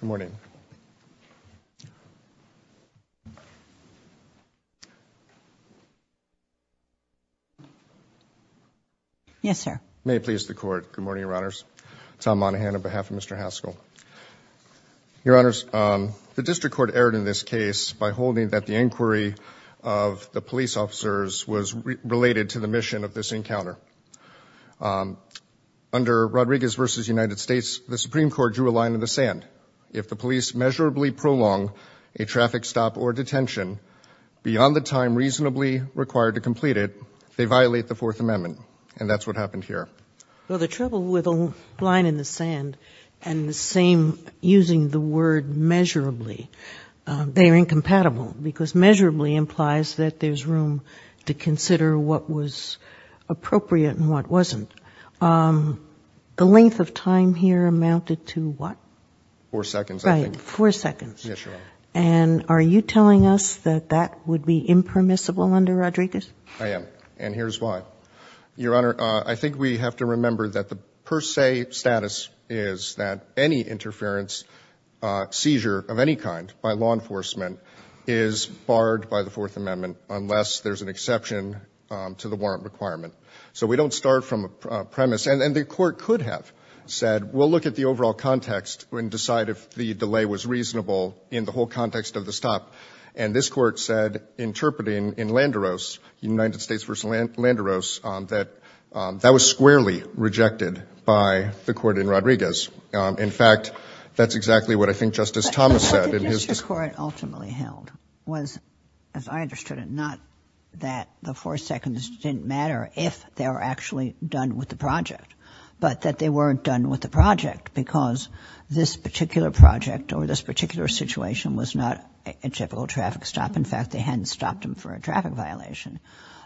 Good morning. Yes, sir. May it please the court. Good morning, Your Honors. Tom Monahan on behalf of Mr. Haskell. Your Honors, the District Court erred in this case by holding that the inquiry of the police officers was related to the mission of this encounter. Um, under Rodriguez v. United States, the Supreme Court drew a line in the sand. If the police measurably prolong a traffic stop or detention beyond the time reasonably required to complete it, they violate the Fourth Amendment. And that's what happened here. Well, the trouble with a line in the sand and the same using the word measurably, they're incompatible because measurably implies that there's room to consider what was appropriate and what wasn't. Um, the length of time here amounted to what? Four seconds. Right, four seconds. And are you telling us that that would be impermissible under Rodriguez? I am. And here's why. Your Honor, I think we have to remember that the per se status is that any interference, uh, seizure of any kind by law enforcement is barred by the Fourth Amendment unless there's an exception to the warrant requirement. So we don't start from a premise. And the Court could have said, we'll look at the overall context and decide if the delay was reasonable in the whole context of the stop. And this Court said, interpreting in Landeros, United States v. Landeros, that that was squarely rejected by the Court in Rodriguez. In fact, that's exactly what I think Justice Thomas said. Justice Corwin ultimately held was, as I understood it, not that the four seconds didn't matter if they were actually done with the project, but that they weren't done with the project because this particular project or this particular situation was not a typical traffic stop. In fact, they hadn't stopped him for a traffic violation.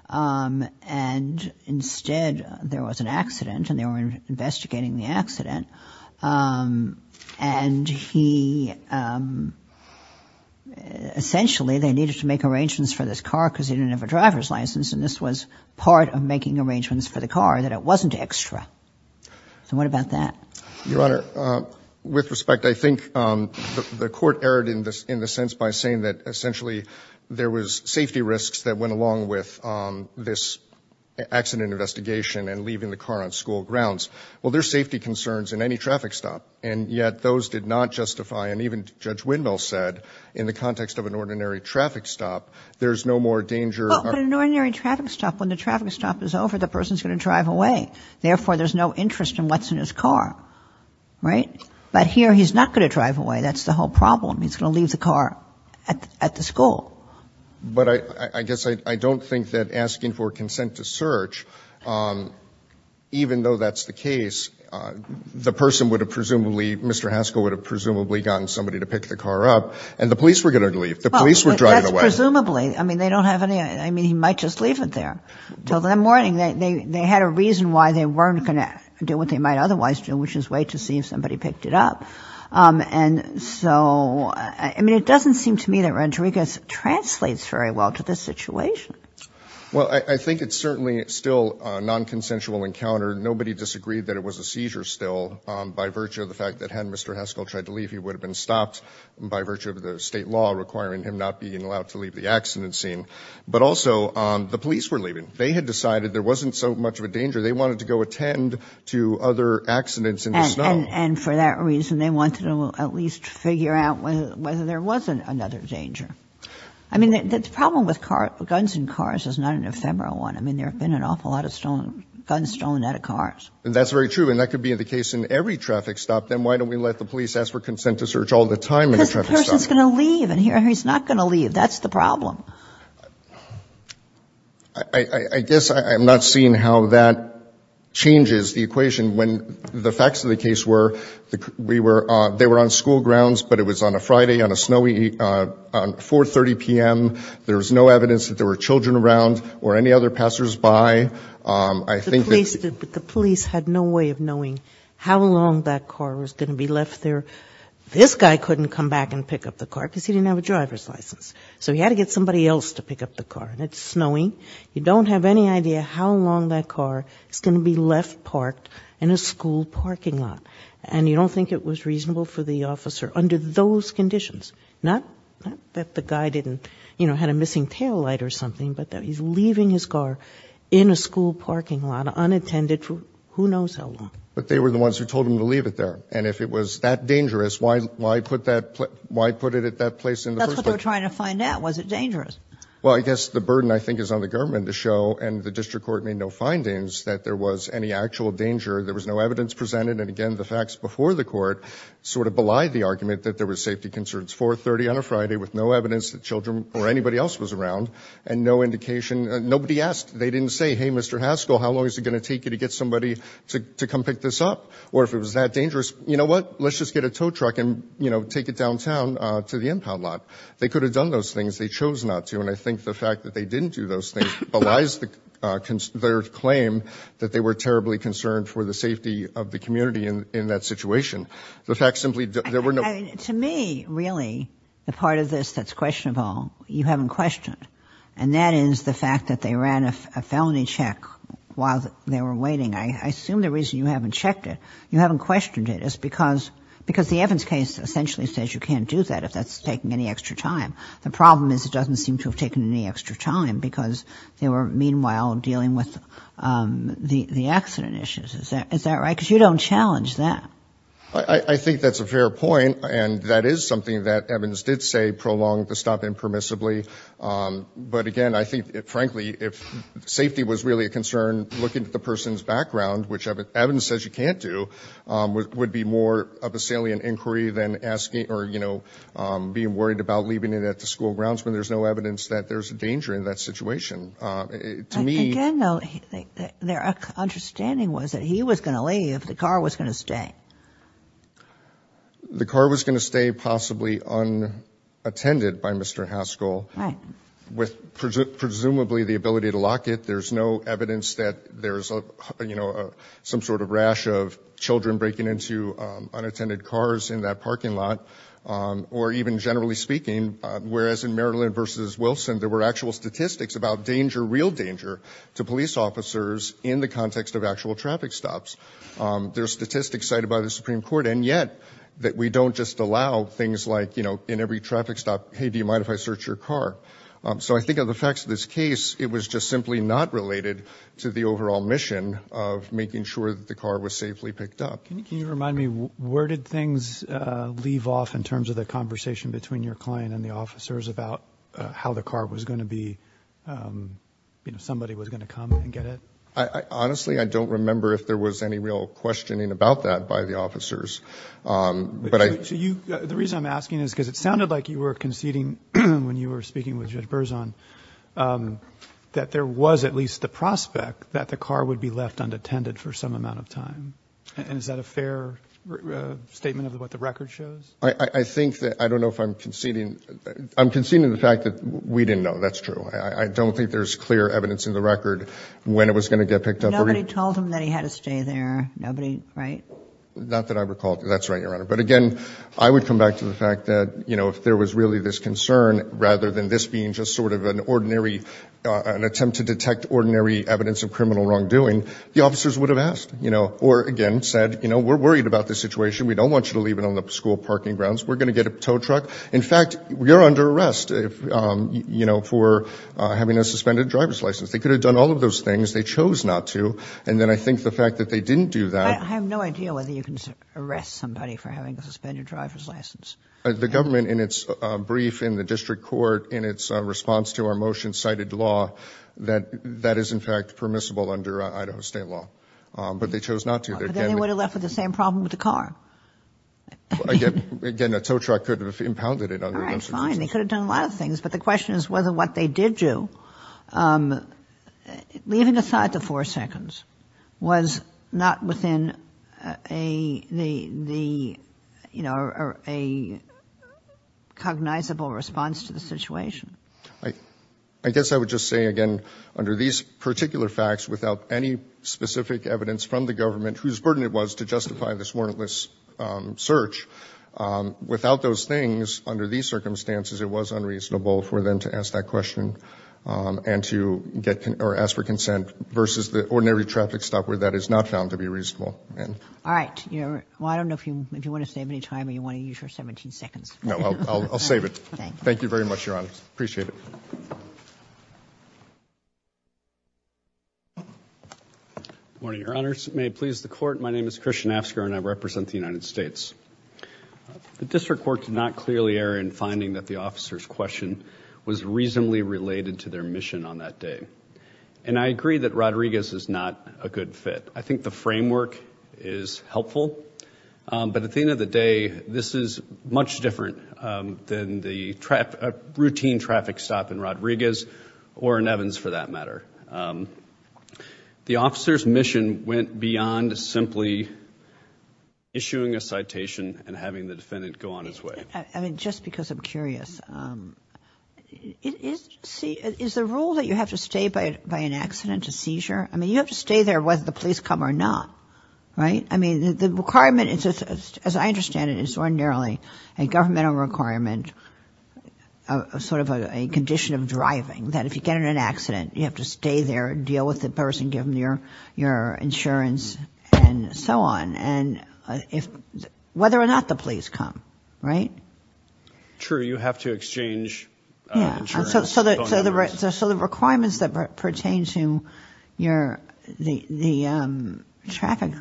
Um, and instead there was an accident and they were investigating the accident. Um, and he, um, essentially they needed to make arrangements for this car cause he didn't have a driver's license. And this was part of making arrangements for the car that it wasn't extra. So what about that? Your Honor, uh, with respect, I think, um, the Court erred in this, in the sense by saying that essentially there was safety risks that went with, um, this accident investigation and leaving the car on school grounds. Well, there's safety concerns in any traffic stop. And yet those did not justify, and even Judge Windmill said, in the context of an ordinary traffic stop, there's no more danger. Well, in an ordinary traffic stop, when the traffic stop is over, the person's going to drive away. Therefore, there's no interest in what's in his car. Right? But here he's not going to drive away. That's the whole problem. He's going to leave the car at the school. But I, I guess I, I don't think that asking for consent to search, um, even though that's the case, uh, the person would have presumably, Mr. Haskell would have presumably gotten somebody to pick the car up and the police were going to leave. The police were driving away. Well, that's presumably, I mean, they don't have any, I mean, he might just leave it there till that morning. They, they, they had a reason why they weren't going to do what they might otherwise do, which is wait to see if somebody picked it up. Um, and so, I mean, it doesn't seem to me that Rodriguez translates very well to this situation. Well, I think it's certainly still a non-consensual encounter. Nobody disagreed that it was a seizure still, um, by virtue of the fact that had Mr. Haskell tried to leave, he would have been stopped by virtue of the state law requiring him not being allowed to leave the accident scene. But also, um, the police were leaving. They had decided there wasn't so much of a danger. And, and for that reason, they wanted to at least figure out whether there wasn't another danger. I mean, the problem with car, guns in cars is not an ephemeral one. I mean, there have been an awful lot of stolen, guns stolen out of cars. That's very true. And that could be the case in every traffic stop. Then why don't we let the police ask for consent to search all the time in a traffic stop? Because the person's going to leave and he's not going to leave. That's the problem. I, I, I guess I'm not seeing how that changes the equation when the facts of the case were. We were, uh, they were on school grounds, but it was on a Friday on a snowy, uh, uh, 4.30 PM. There was no evidence that there were children around or any other passers-by. Um, I think the police did, but the police had no way of knowing how long that car was going to be left there. This guy couldn't come back and pick up the car because he didn't have a driver's license. So he had to get somebody else to pick up the car and it's snowing. You don't have any idea how long that car is going to be left parked in a school parking lot. And you don't think it was reasonable for the officer under those conditions, not that the guy didn't, you know, had a missing taillight or something, but that he's leaving his car in a school parking lot unattended for who knows how long. But they were the ones who told him to leave it there. And if it was that dangerous, why, why put that, why put it at that place? And that's what they're trying to find out. Was it dangerous? Well, I guess the burden I think is on the government to show and the district court made no findings that there was any actual danger. There was no evidence presented. And again, the facts before the court sort of belied the argument that there was safety concerns. 430 on a Friday with no evidence that children or anybody else was around and no indication. Nobody asked. They didn't say, hey, Mr. Haskell, how long is it going to take you to get somebody to come pick this up? Or if it was that dangerous, you know what, let's just get a tow truck and, you know, take it downtown to the impound lot. They could have done those things. They chose not to. And I think the fact that they didn't do those things belies their claim that they were terribly concerned for the safety of the community. And in that situation, the fact simply that there were no. To me, really, the part of this that's questionable, you haven't questioned. And that is the fact that they ran a felony check while they were waiting. I assume the reason you haven't checked it, you haven't questioned it is because because the Evans case essentially says you can't do that if that's taking any extra time. The problem is it doesn't seem to have taken any extra time because they were meanwhile dealing with the accident issues. Is that right? Because you don't challenge that. I think that's a fair point. And that is something that Evans did say prolonged the stop impermissibly. But again, I think, frankly, if safety was really a concern, looking at the person's background, which Evans says you can't do, would be more of a salient inquiry than asking or, you know, being worried about leaving it at the school grounds when there's no evidence that there's a danger in that situation. To me, you know, their understanding was that he was going to leave. The car was going to stay. The car was going to stay possibly unattended by Mr. Haskell with presumably the ability to lock it. There's no evidence that there's, you know, some sort of rash of children breaking into unattended cars in that parking lot or even generally speaking, whereas in Berlin versus Wilson, there were actual statistics about danger, real danger to police officers in the context of actual traffic stops. There are statistics cited by the Supreme Court and yet that we don't just allow things like, you know, in every traffic stop, hey, do you mind if I search your car? So I think of the facts of this case, it was just simply not related to the overall mission of making sure that the car was safely picked up. Can you remind me, where did things leave off in terms of the conversation between your client and the officers about how the car was going to be, you know, somebody was going to come and get it? I honestly, I don't remember if there was any real questioning about that by the officers. But the reason I'm asking is because it sounded like you were conceding when you were speaking with Judge Berzon that there was at least the prospect that the car would be left unattended for some amount of time. And is that a fair statement of what the record shows? I think that, I don't know if I'm conceding, I'm conceding the fact that we didn't know. That's true. I don't think there's clear evidence in the record when it was going to get picked up. Nobody told him that he had to stay there. Nobody, right? Not that I recall. That's right, Your Honor. But again, I would come back to the fact that, you know, if there was really this concern, rather than this being just sort of an ordinary, an attempt to detect ordinary evidence of criminal wrongdoing, the officers would have asked, you know, or again said, you know, we're worried about this situation. We don't want you to leave it on the school parking grounds. We're going to get a tow truck. In fact, you're under arrest, you know, for having a suspended driver's license. They could have done all of those things. They chose not to. And then I think the fact that they didn't do that. I have no idea whether you can arrest somebody for having a suspended driver's license. The government in its brief in the district court, in its response to our motion cited law, that that is in fact permissible under Idaho state law. But they chose not to. But then they would have left with the same problem with the car. Again, again, a tow truck could have impounded it. All right, fine. They could have done a lot of things. But the question is whether what they did do, leaving aside the four seconds was not within a, the, the, you know, a cognizable response to the situation. I, I guess I would just say again, under these particular facts, without any specific evidence from the government, whose burden it was to justify this warrantless search, without those things, under these circumstances, it was unreasonable for them to ask that question and to get, or ask for consent versus the ordinary traffic stop where that is not found to be reasonable. All right. You're, well, I don't know if you, if you want to save any time or you want to use your 17 seconds. No, I'll, I'll, I'll save it. Thank you very much, Your Honor. Appreciate it. Morning, Your Honors. May it please the court. My name is Christian Asker and I represent the United States. The district court did not clearly err in finding that the officer's question was reasonably related to their mission on that day. And I agree that Rodriguez is not a good fit. I think the framework is helpful. But at the end of the day, this is much different than the trap, routine traffic stop in Rodriguez or in Evans for that matter. The officer's mission went beyond simply issuing a citation and having the defendant go on his way. I mean, just because I'm curious, is the rule that you have to stay by an accident, a seizure? I mean, you have to stay there whether the police come or not, right? I mean, the requirement is, as I understand it, is ordinarily a governmental requirement, a sort of a condition of driving that if you get in an accident, you have to stay there, deal with the person, give them your, your insurance and so on. And if, whether or not the police come, right? True. You have to exchange insurance. So the requirements that pertain to your, the, the traffic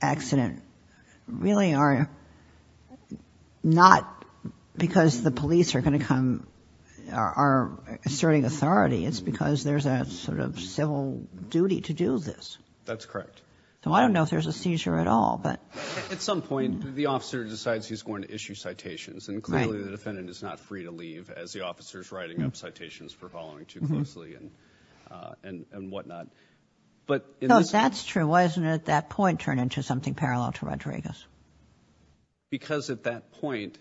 accident really are not because the police are going to come, are asserting authority. It's because there's that sort of civil duty to do this. That's correct. So I don't know if there's a seizure at all, but. At some point, the officer decides he's going to issue citations. And clearly the defendant is not free to leave as the officer's writing up citations for following too closely and, and, and whatnot. But. No, that's true. Why isn't it at that point turned into something parallel to Rodriguez? Because at that point,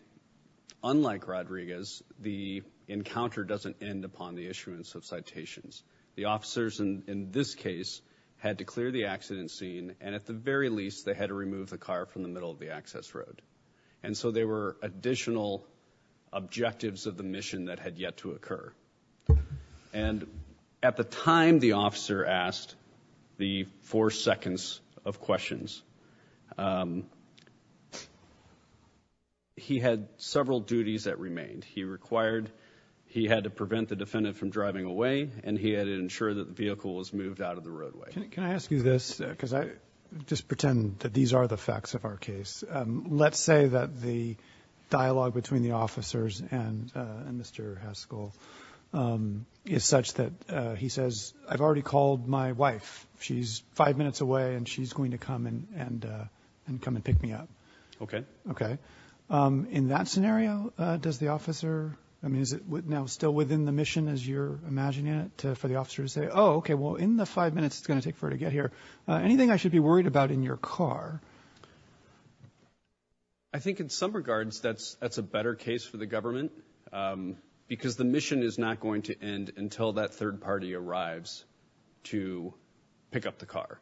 unlike Rodriguez, the encounter doesn't end upon the issuance of citations. The officers in this case had to clear the accident scene. And at the very least, they had to remove the car from the middle of the access road. And so there were additional objectives of the mission that had yet to occur. And at the time the officer asked the four seconds of questions. Um, he had several duties that remained. He required, he had to prevent the defendant from driving away and he had to ensure that the vehicle was moved out of the roadway. Can I ask you this? Cause I just pretend that these are the facts of our case. Um, let's say that the dialogue between the officers and, uh, and Mr. Haskell, um, is such that, uh, he says, I've already called my wife. She's five minutes away and she's going to come and, and, uh, and come and pick me up. Okay. Okay. Um, in that scenario, uh, does the officer, I mean, is it now still within the mission as you're imagining it to, for the officer to say, oh, okay, well in the five minutes it's going to take for her to get here, uh, anything I should be worried about in your car? I think in some regards, that's, that's a better case for the government. Um, because the mission is not going to end until that third party arrives to pick up the car.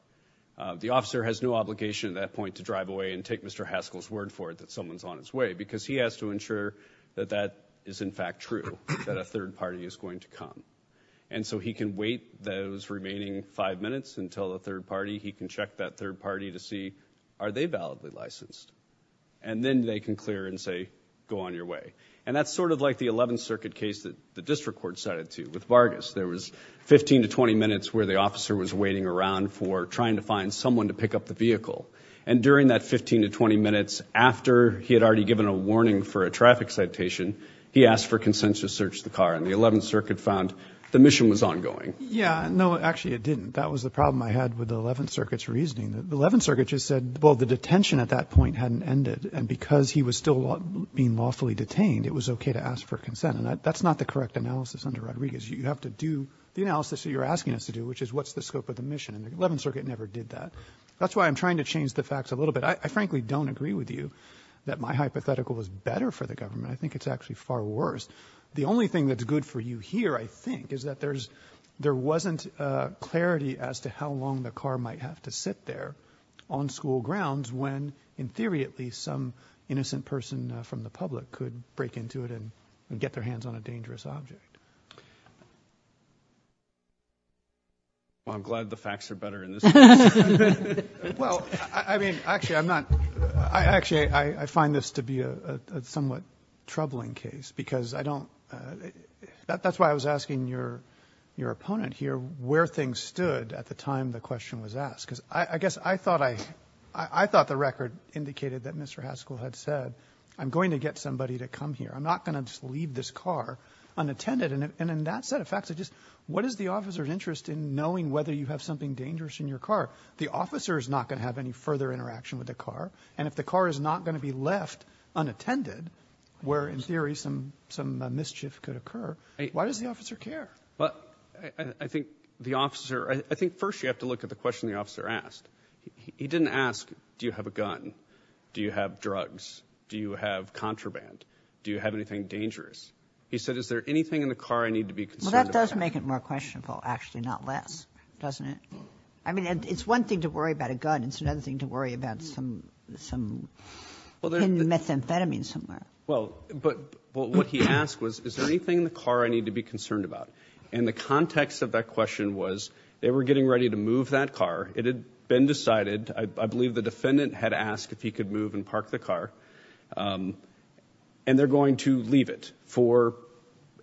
Uh, the officer has no obligation at that point to drive away and take Mr. Haskell's word for it, that someone's on his way because he has to ensure that that is in fact true, that a third party is going to come. And so he can wait those remaining five minutes until the third party, he can check that third party to see, are they validly licensed and then they can clear and say, go on your way. And that's sort of like the 11th circuit case that the district court cited too, with Vargas. There was 15 to 20 minutes where the officer was waiting around for trying to find someone to pick up the vehicle. And during that 15 to 20 minutes after he had already given a warning for a traffic citation, he asked for consent to search the car. And the 11th circuit found the mission was ongoing. Yeah, no, actually it didn't. That was the problem I had with the 11th circuit's reasoning. The 11th circuit just said, well, the detention at that point hadn't ended. And because he was still being lawfully detained, it was okay to ask for consent. And that's not the correct analysis under Rodriguez. You have to do the analysis that you're asking us to do, which is what's the scope of the mission? And the 11th circuit never did that. That's why I'm trying to change the facts a little bit. I frankly don't agree with you that my hypothetical was better for the government. I think it's actually far worse. The only thing that's good for you here, I think, is that there's, there wasn't a clarity as to how long the car might have to sit there on school grounds when, in theory at least, some innocent person from the public could break into it and get their hands on a dangerous object. Well, I'm glad the facts are better in this case. Well, I mean, actually I'm not, I actually, I find this to be a somewhat troubling case because I don't, that's why I was asking your, your opponent here, where things stood at the time the question was asked. Cause I guess I thought I, I thought the record indicated that Mr. Haskell had said, I'm going to get somebody to come here. I'm not going to just leave this car unattended. And in that set of facts, I just, what is the officer's interest in knowing whether you have something dangerous in your car? The officer is not going to have any further interaction with the car. And if the car is not going to be left unattended, where in theory, some, some mischief could occur. Why does the officer care? But I think the officer, I think first you have to look at the question. The officer asked, he didn't ask, do you have a gun? Do you have drugs? Do you have contraband? Do you have anything dangerous? He said, is there anything in the car I need to be concerned about? That does make it more questionable, actually, not less, doesn't it? I mean, it's one thing to worry about a gun. It's another thing to worry about some, some methamphetamine somewhere. Well, but what he asked was, is there anything in the car I need to be concerned about, and the context of that question was they were getting ready to move that car, it had been decided, I believe the defendant had asked if he could move and park the car, and they're going to leave it for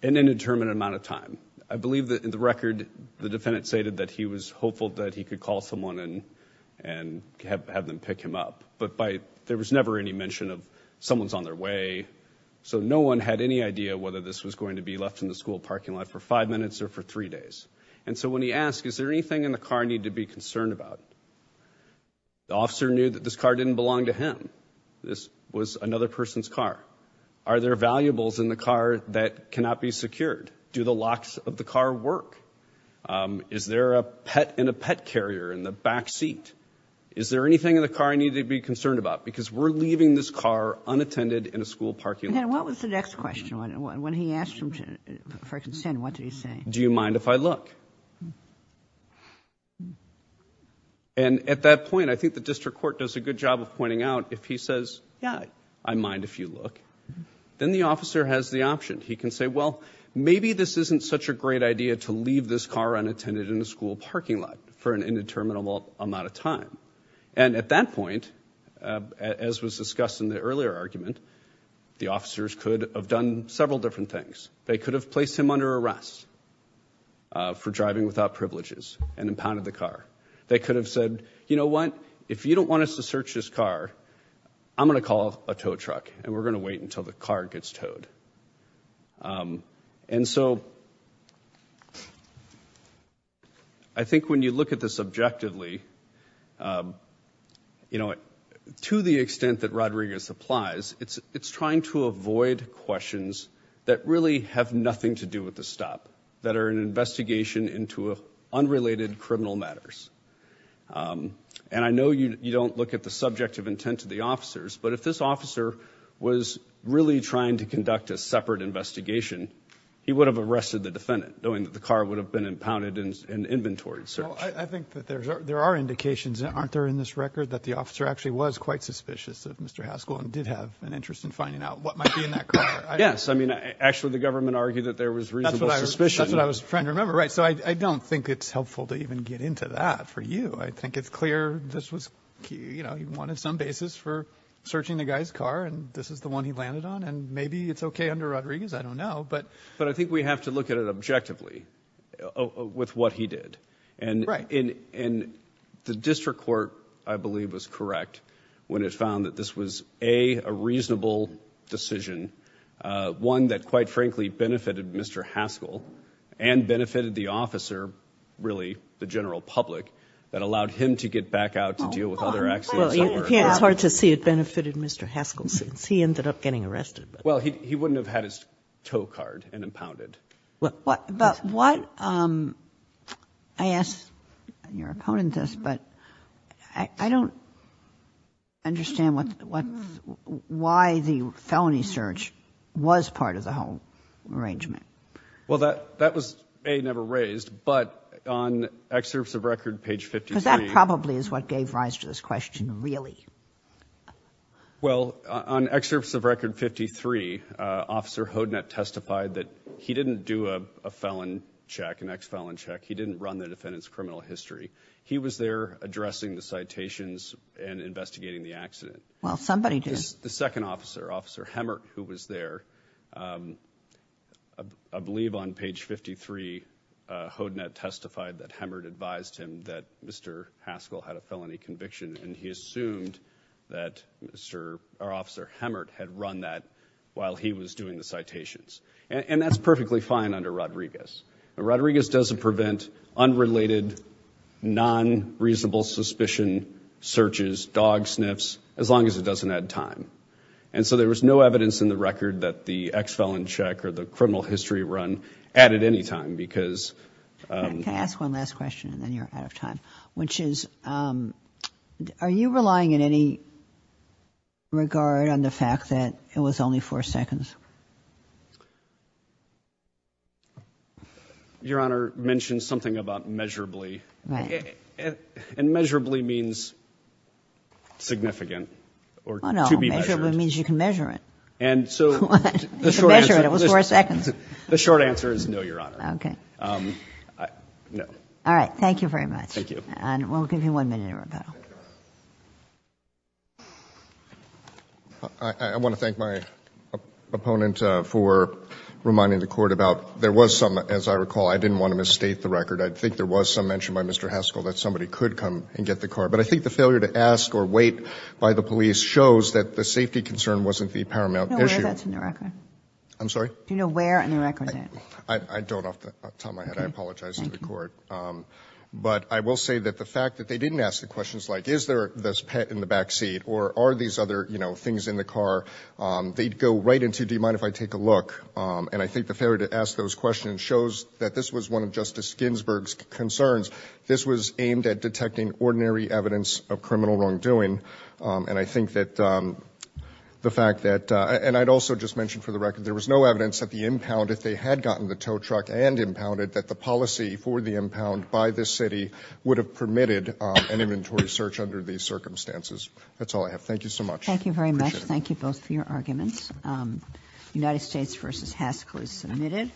an indeterminate amount of time. I believe that in the record, the defendant stated that he was hopeful that he could call someone and, and have, have them pick him up, but by, there was never any mention of someone's on their way. So no one had any idea whether this was going to be left in the school parking lot for five minutes or for three days. And so when he asked, is there anything in the car I need to be concerned about? The officer knew that this car didn't belong to him. This was another person's car. Are there valuables in the car that cannot be secured? Do the locks of the car work? Is there a pet in a pet carrier in the back seat? Is there anything in the car I need to be concerned about? Because we're leaving this car unattended in a school parking lot. And what was the next question? When he asked him for consent, what did he say? Do you mind if I look? And at that point, I think the district court does a good job of pointing out if he says, yeah, I mind if you look, then the officer has the option. He can say, well, maybe this isn't such a great idea to leave this car unattended in a school parking lot for an indeterminable amount of time. And at that point, as was discussed in the earlier argument, the officers could have done several different things. They could have placed him under arrest. For driving without privileges and impounded the car. They could have said, you know what, if you don't want us to search this car, I'm going to call a tow truck and we're going to wait until the car gets towed. And so. I think when you look at this objectively, you know, to the extent that Rodriguez applies, it's trying to avoid questions that really have nothing to do with the investigation into unrelated criminal matters. And I know you don't look at the subject of intent to the officers, but if this officer was really trying to conduct a separate investigation, he would have arrested the defendant, knowing that the car would have been impounded and inventoried. So I think that there's, there are indications that aren't there in this record that the officer actually was quite suspicious of Mr. Haskell and did have an interest in finding out what might be in that car. Yes. I mean, actually the government argued that there was reasonable suspicion. That's what I was trying to remember. Right. So I don't think it's helpful to even get into that for you. I think it's clear this was, you know, he wanted some basis for searching the guy's car and this is the one he landed on and maybe it's okay under Rodriguez. I don't know, but. But I think we have to look at it objectively with what he did and in the district court, I believe was correct when it found that this was a, a and benefited the officer, really the general public that allowed him to get back out to deal with other accidents. Well, it's hard to see it benefited Mr. Haskell since he ended up getting arrested. Well, he, he wouldn't have had his tow card and impounded. Well, but what, um, I asked your opponent this, but I don't understand what, why the felony search was part of the whole arrangement. Well, that, that was, A, never raised, but on excerpts of record page 53. Cause that probably is what gave rise to this question, really? Well, on excerpts of record 53, uh, officer Hodnett testified that he didn't do a felon check, an ex felon check. He didn't run the defendant's criminal history. He was there addressing the citations and investigating the accident. Well, somebody did. The second officer, officer Hemmert, who was there, um, I believe on page 53, uh, Hodnett testified that Hemmert advised him that Mr. Haskell had a felony conviction. And he assumed that Mr., or officer Hemmert had run that while he was doing the citations. And that's perfectly fine under Rodriguez. Rodriguez doesn't prevent unrelated, non-reasonable suspicion searches, dog sniffs, as long as it doesn't add time. And so there was no evidence in the record that the ex felon check or the criminal history run added any time because, um... Can I ask one last question and then you're out of time, which is, um, are you relying in any regard on the fact that it was only four seconds? Your Honor mentioned something about measurably. And measurably means significant or to be measured. It means you can measure it. And so the short answer is no, Your Honor. Um, no. All right. Thank you very much. And we'll give you one minute to rebuttal. I want to thank my opponent for reminding the court about, there was some, as I recall, I didn't want to misstate the record. I think there was some mention by Mr. Haskell that somebody could come and get the car. But I think the failure to ask or wait by the police shows that the safety concern wasn't the paramount issue. I'm sorry? Do you know where in the record that? I don't off the top of my head. I apologize to the court. Um, but I will say that the fact that they didn't ask the questions like, is there this pet in the backseat or are these other, you know, things in the car? Um, they'd go right into, do you mind if I take a look? Um, and I think the failure to ask those questions shows that this was one of Ginsburg's concerns. This was aimed at detecting ordinary evidence of criminal wrongdoing. Um, and I think that, um, the fact that, uh, and I'd also just mentioned for the record, there was no evidence that the impound, if they had gotten the tow truck and impounded, that the policy for the impound by this city would have permitted an inventory search under these circumstances. That's all I have. Thank you so much. Thank you very much. Thank you both for your arguments. Um, United States versus Haskell is submitted.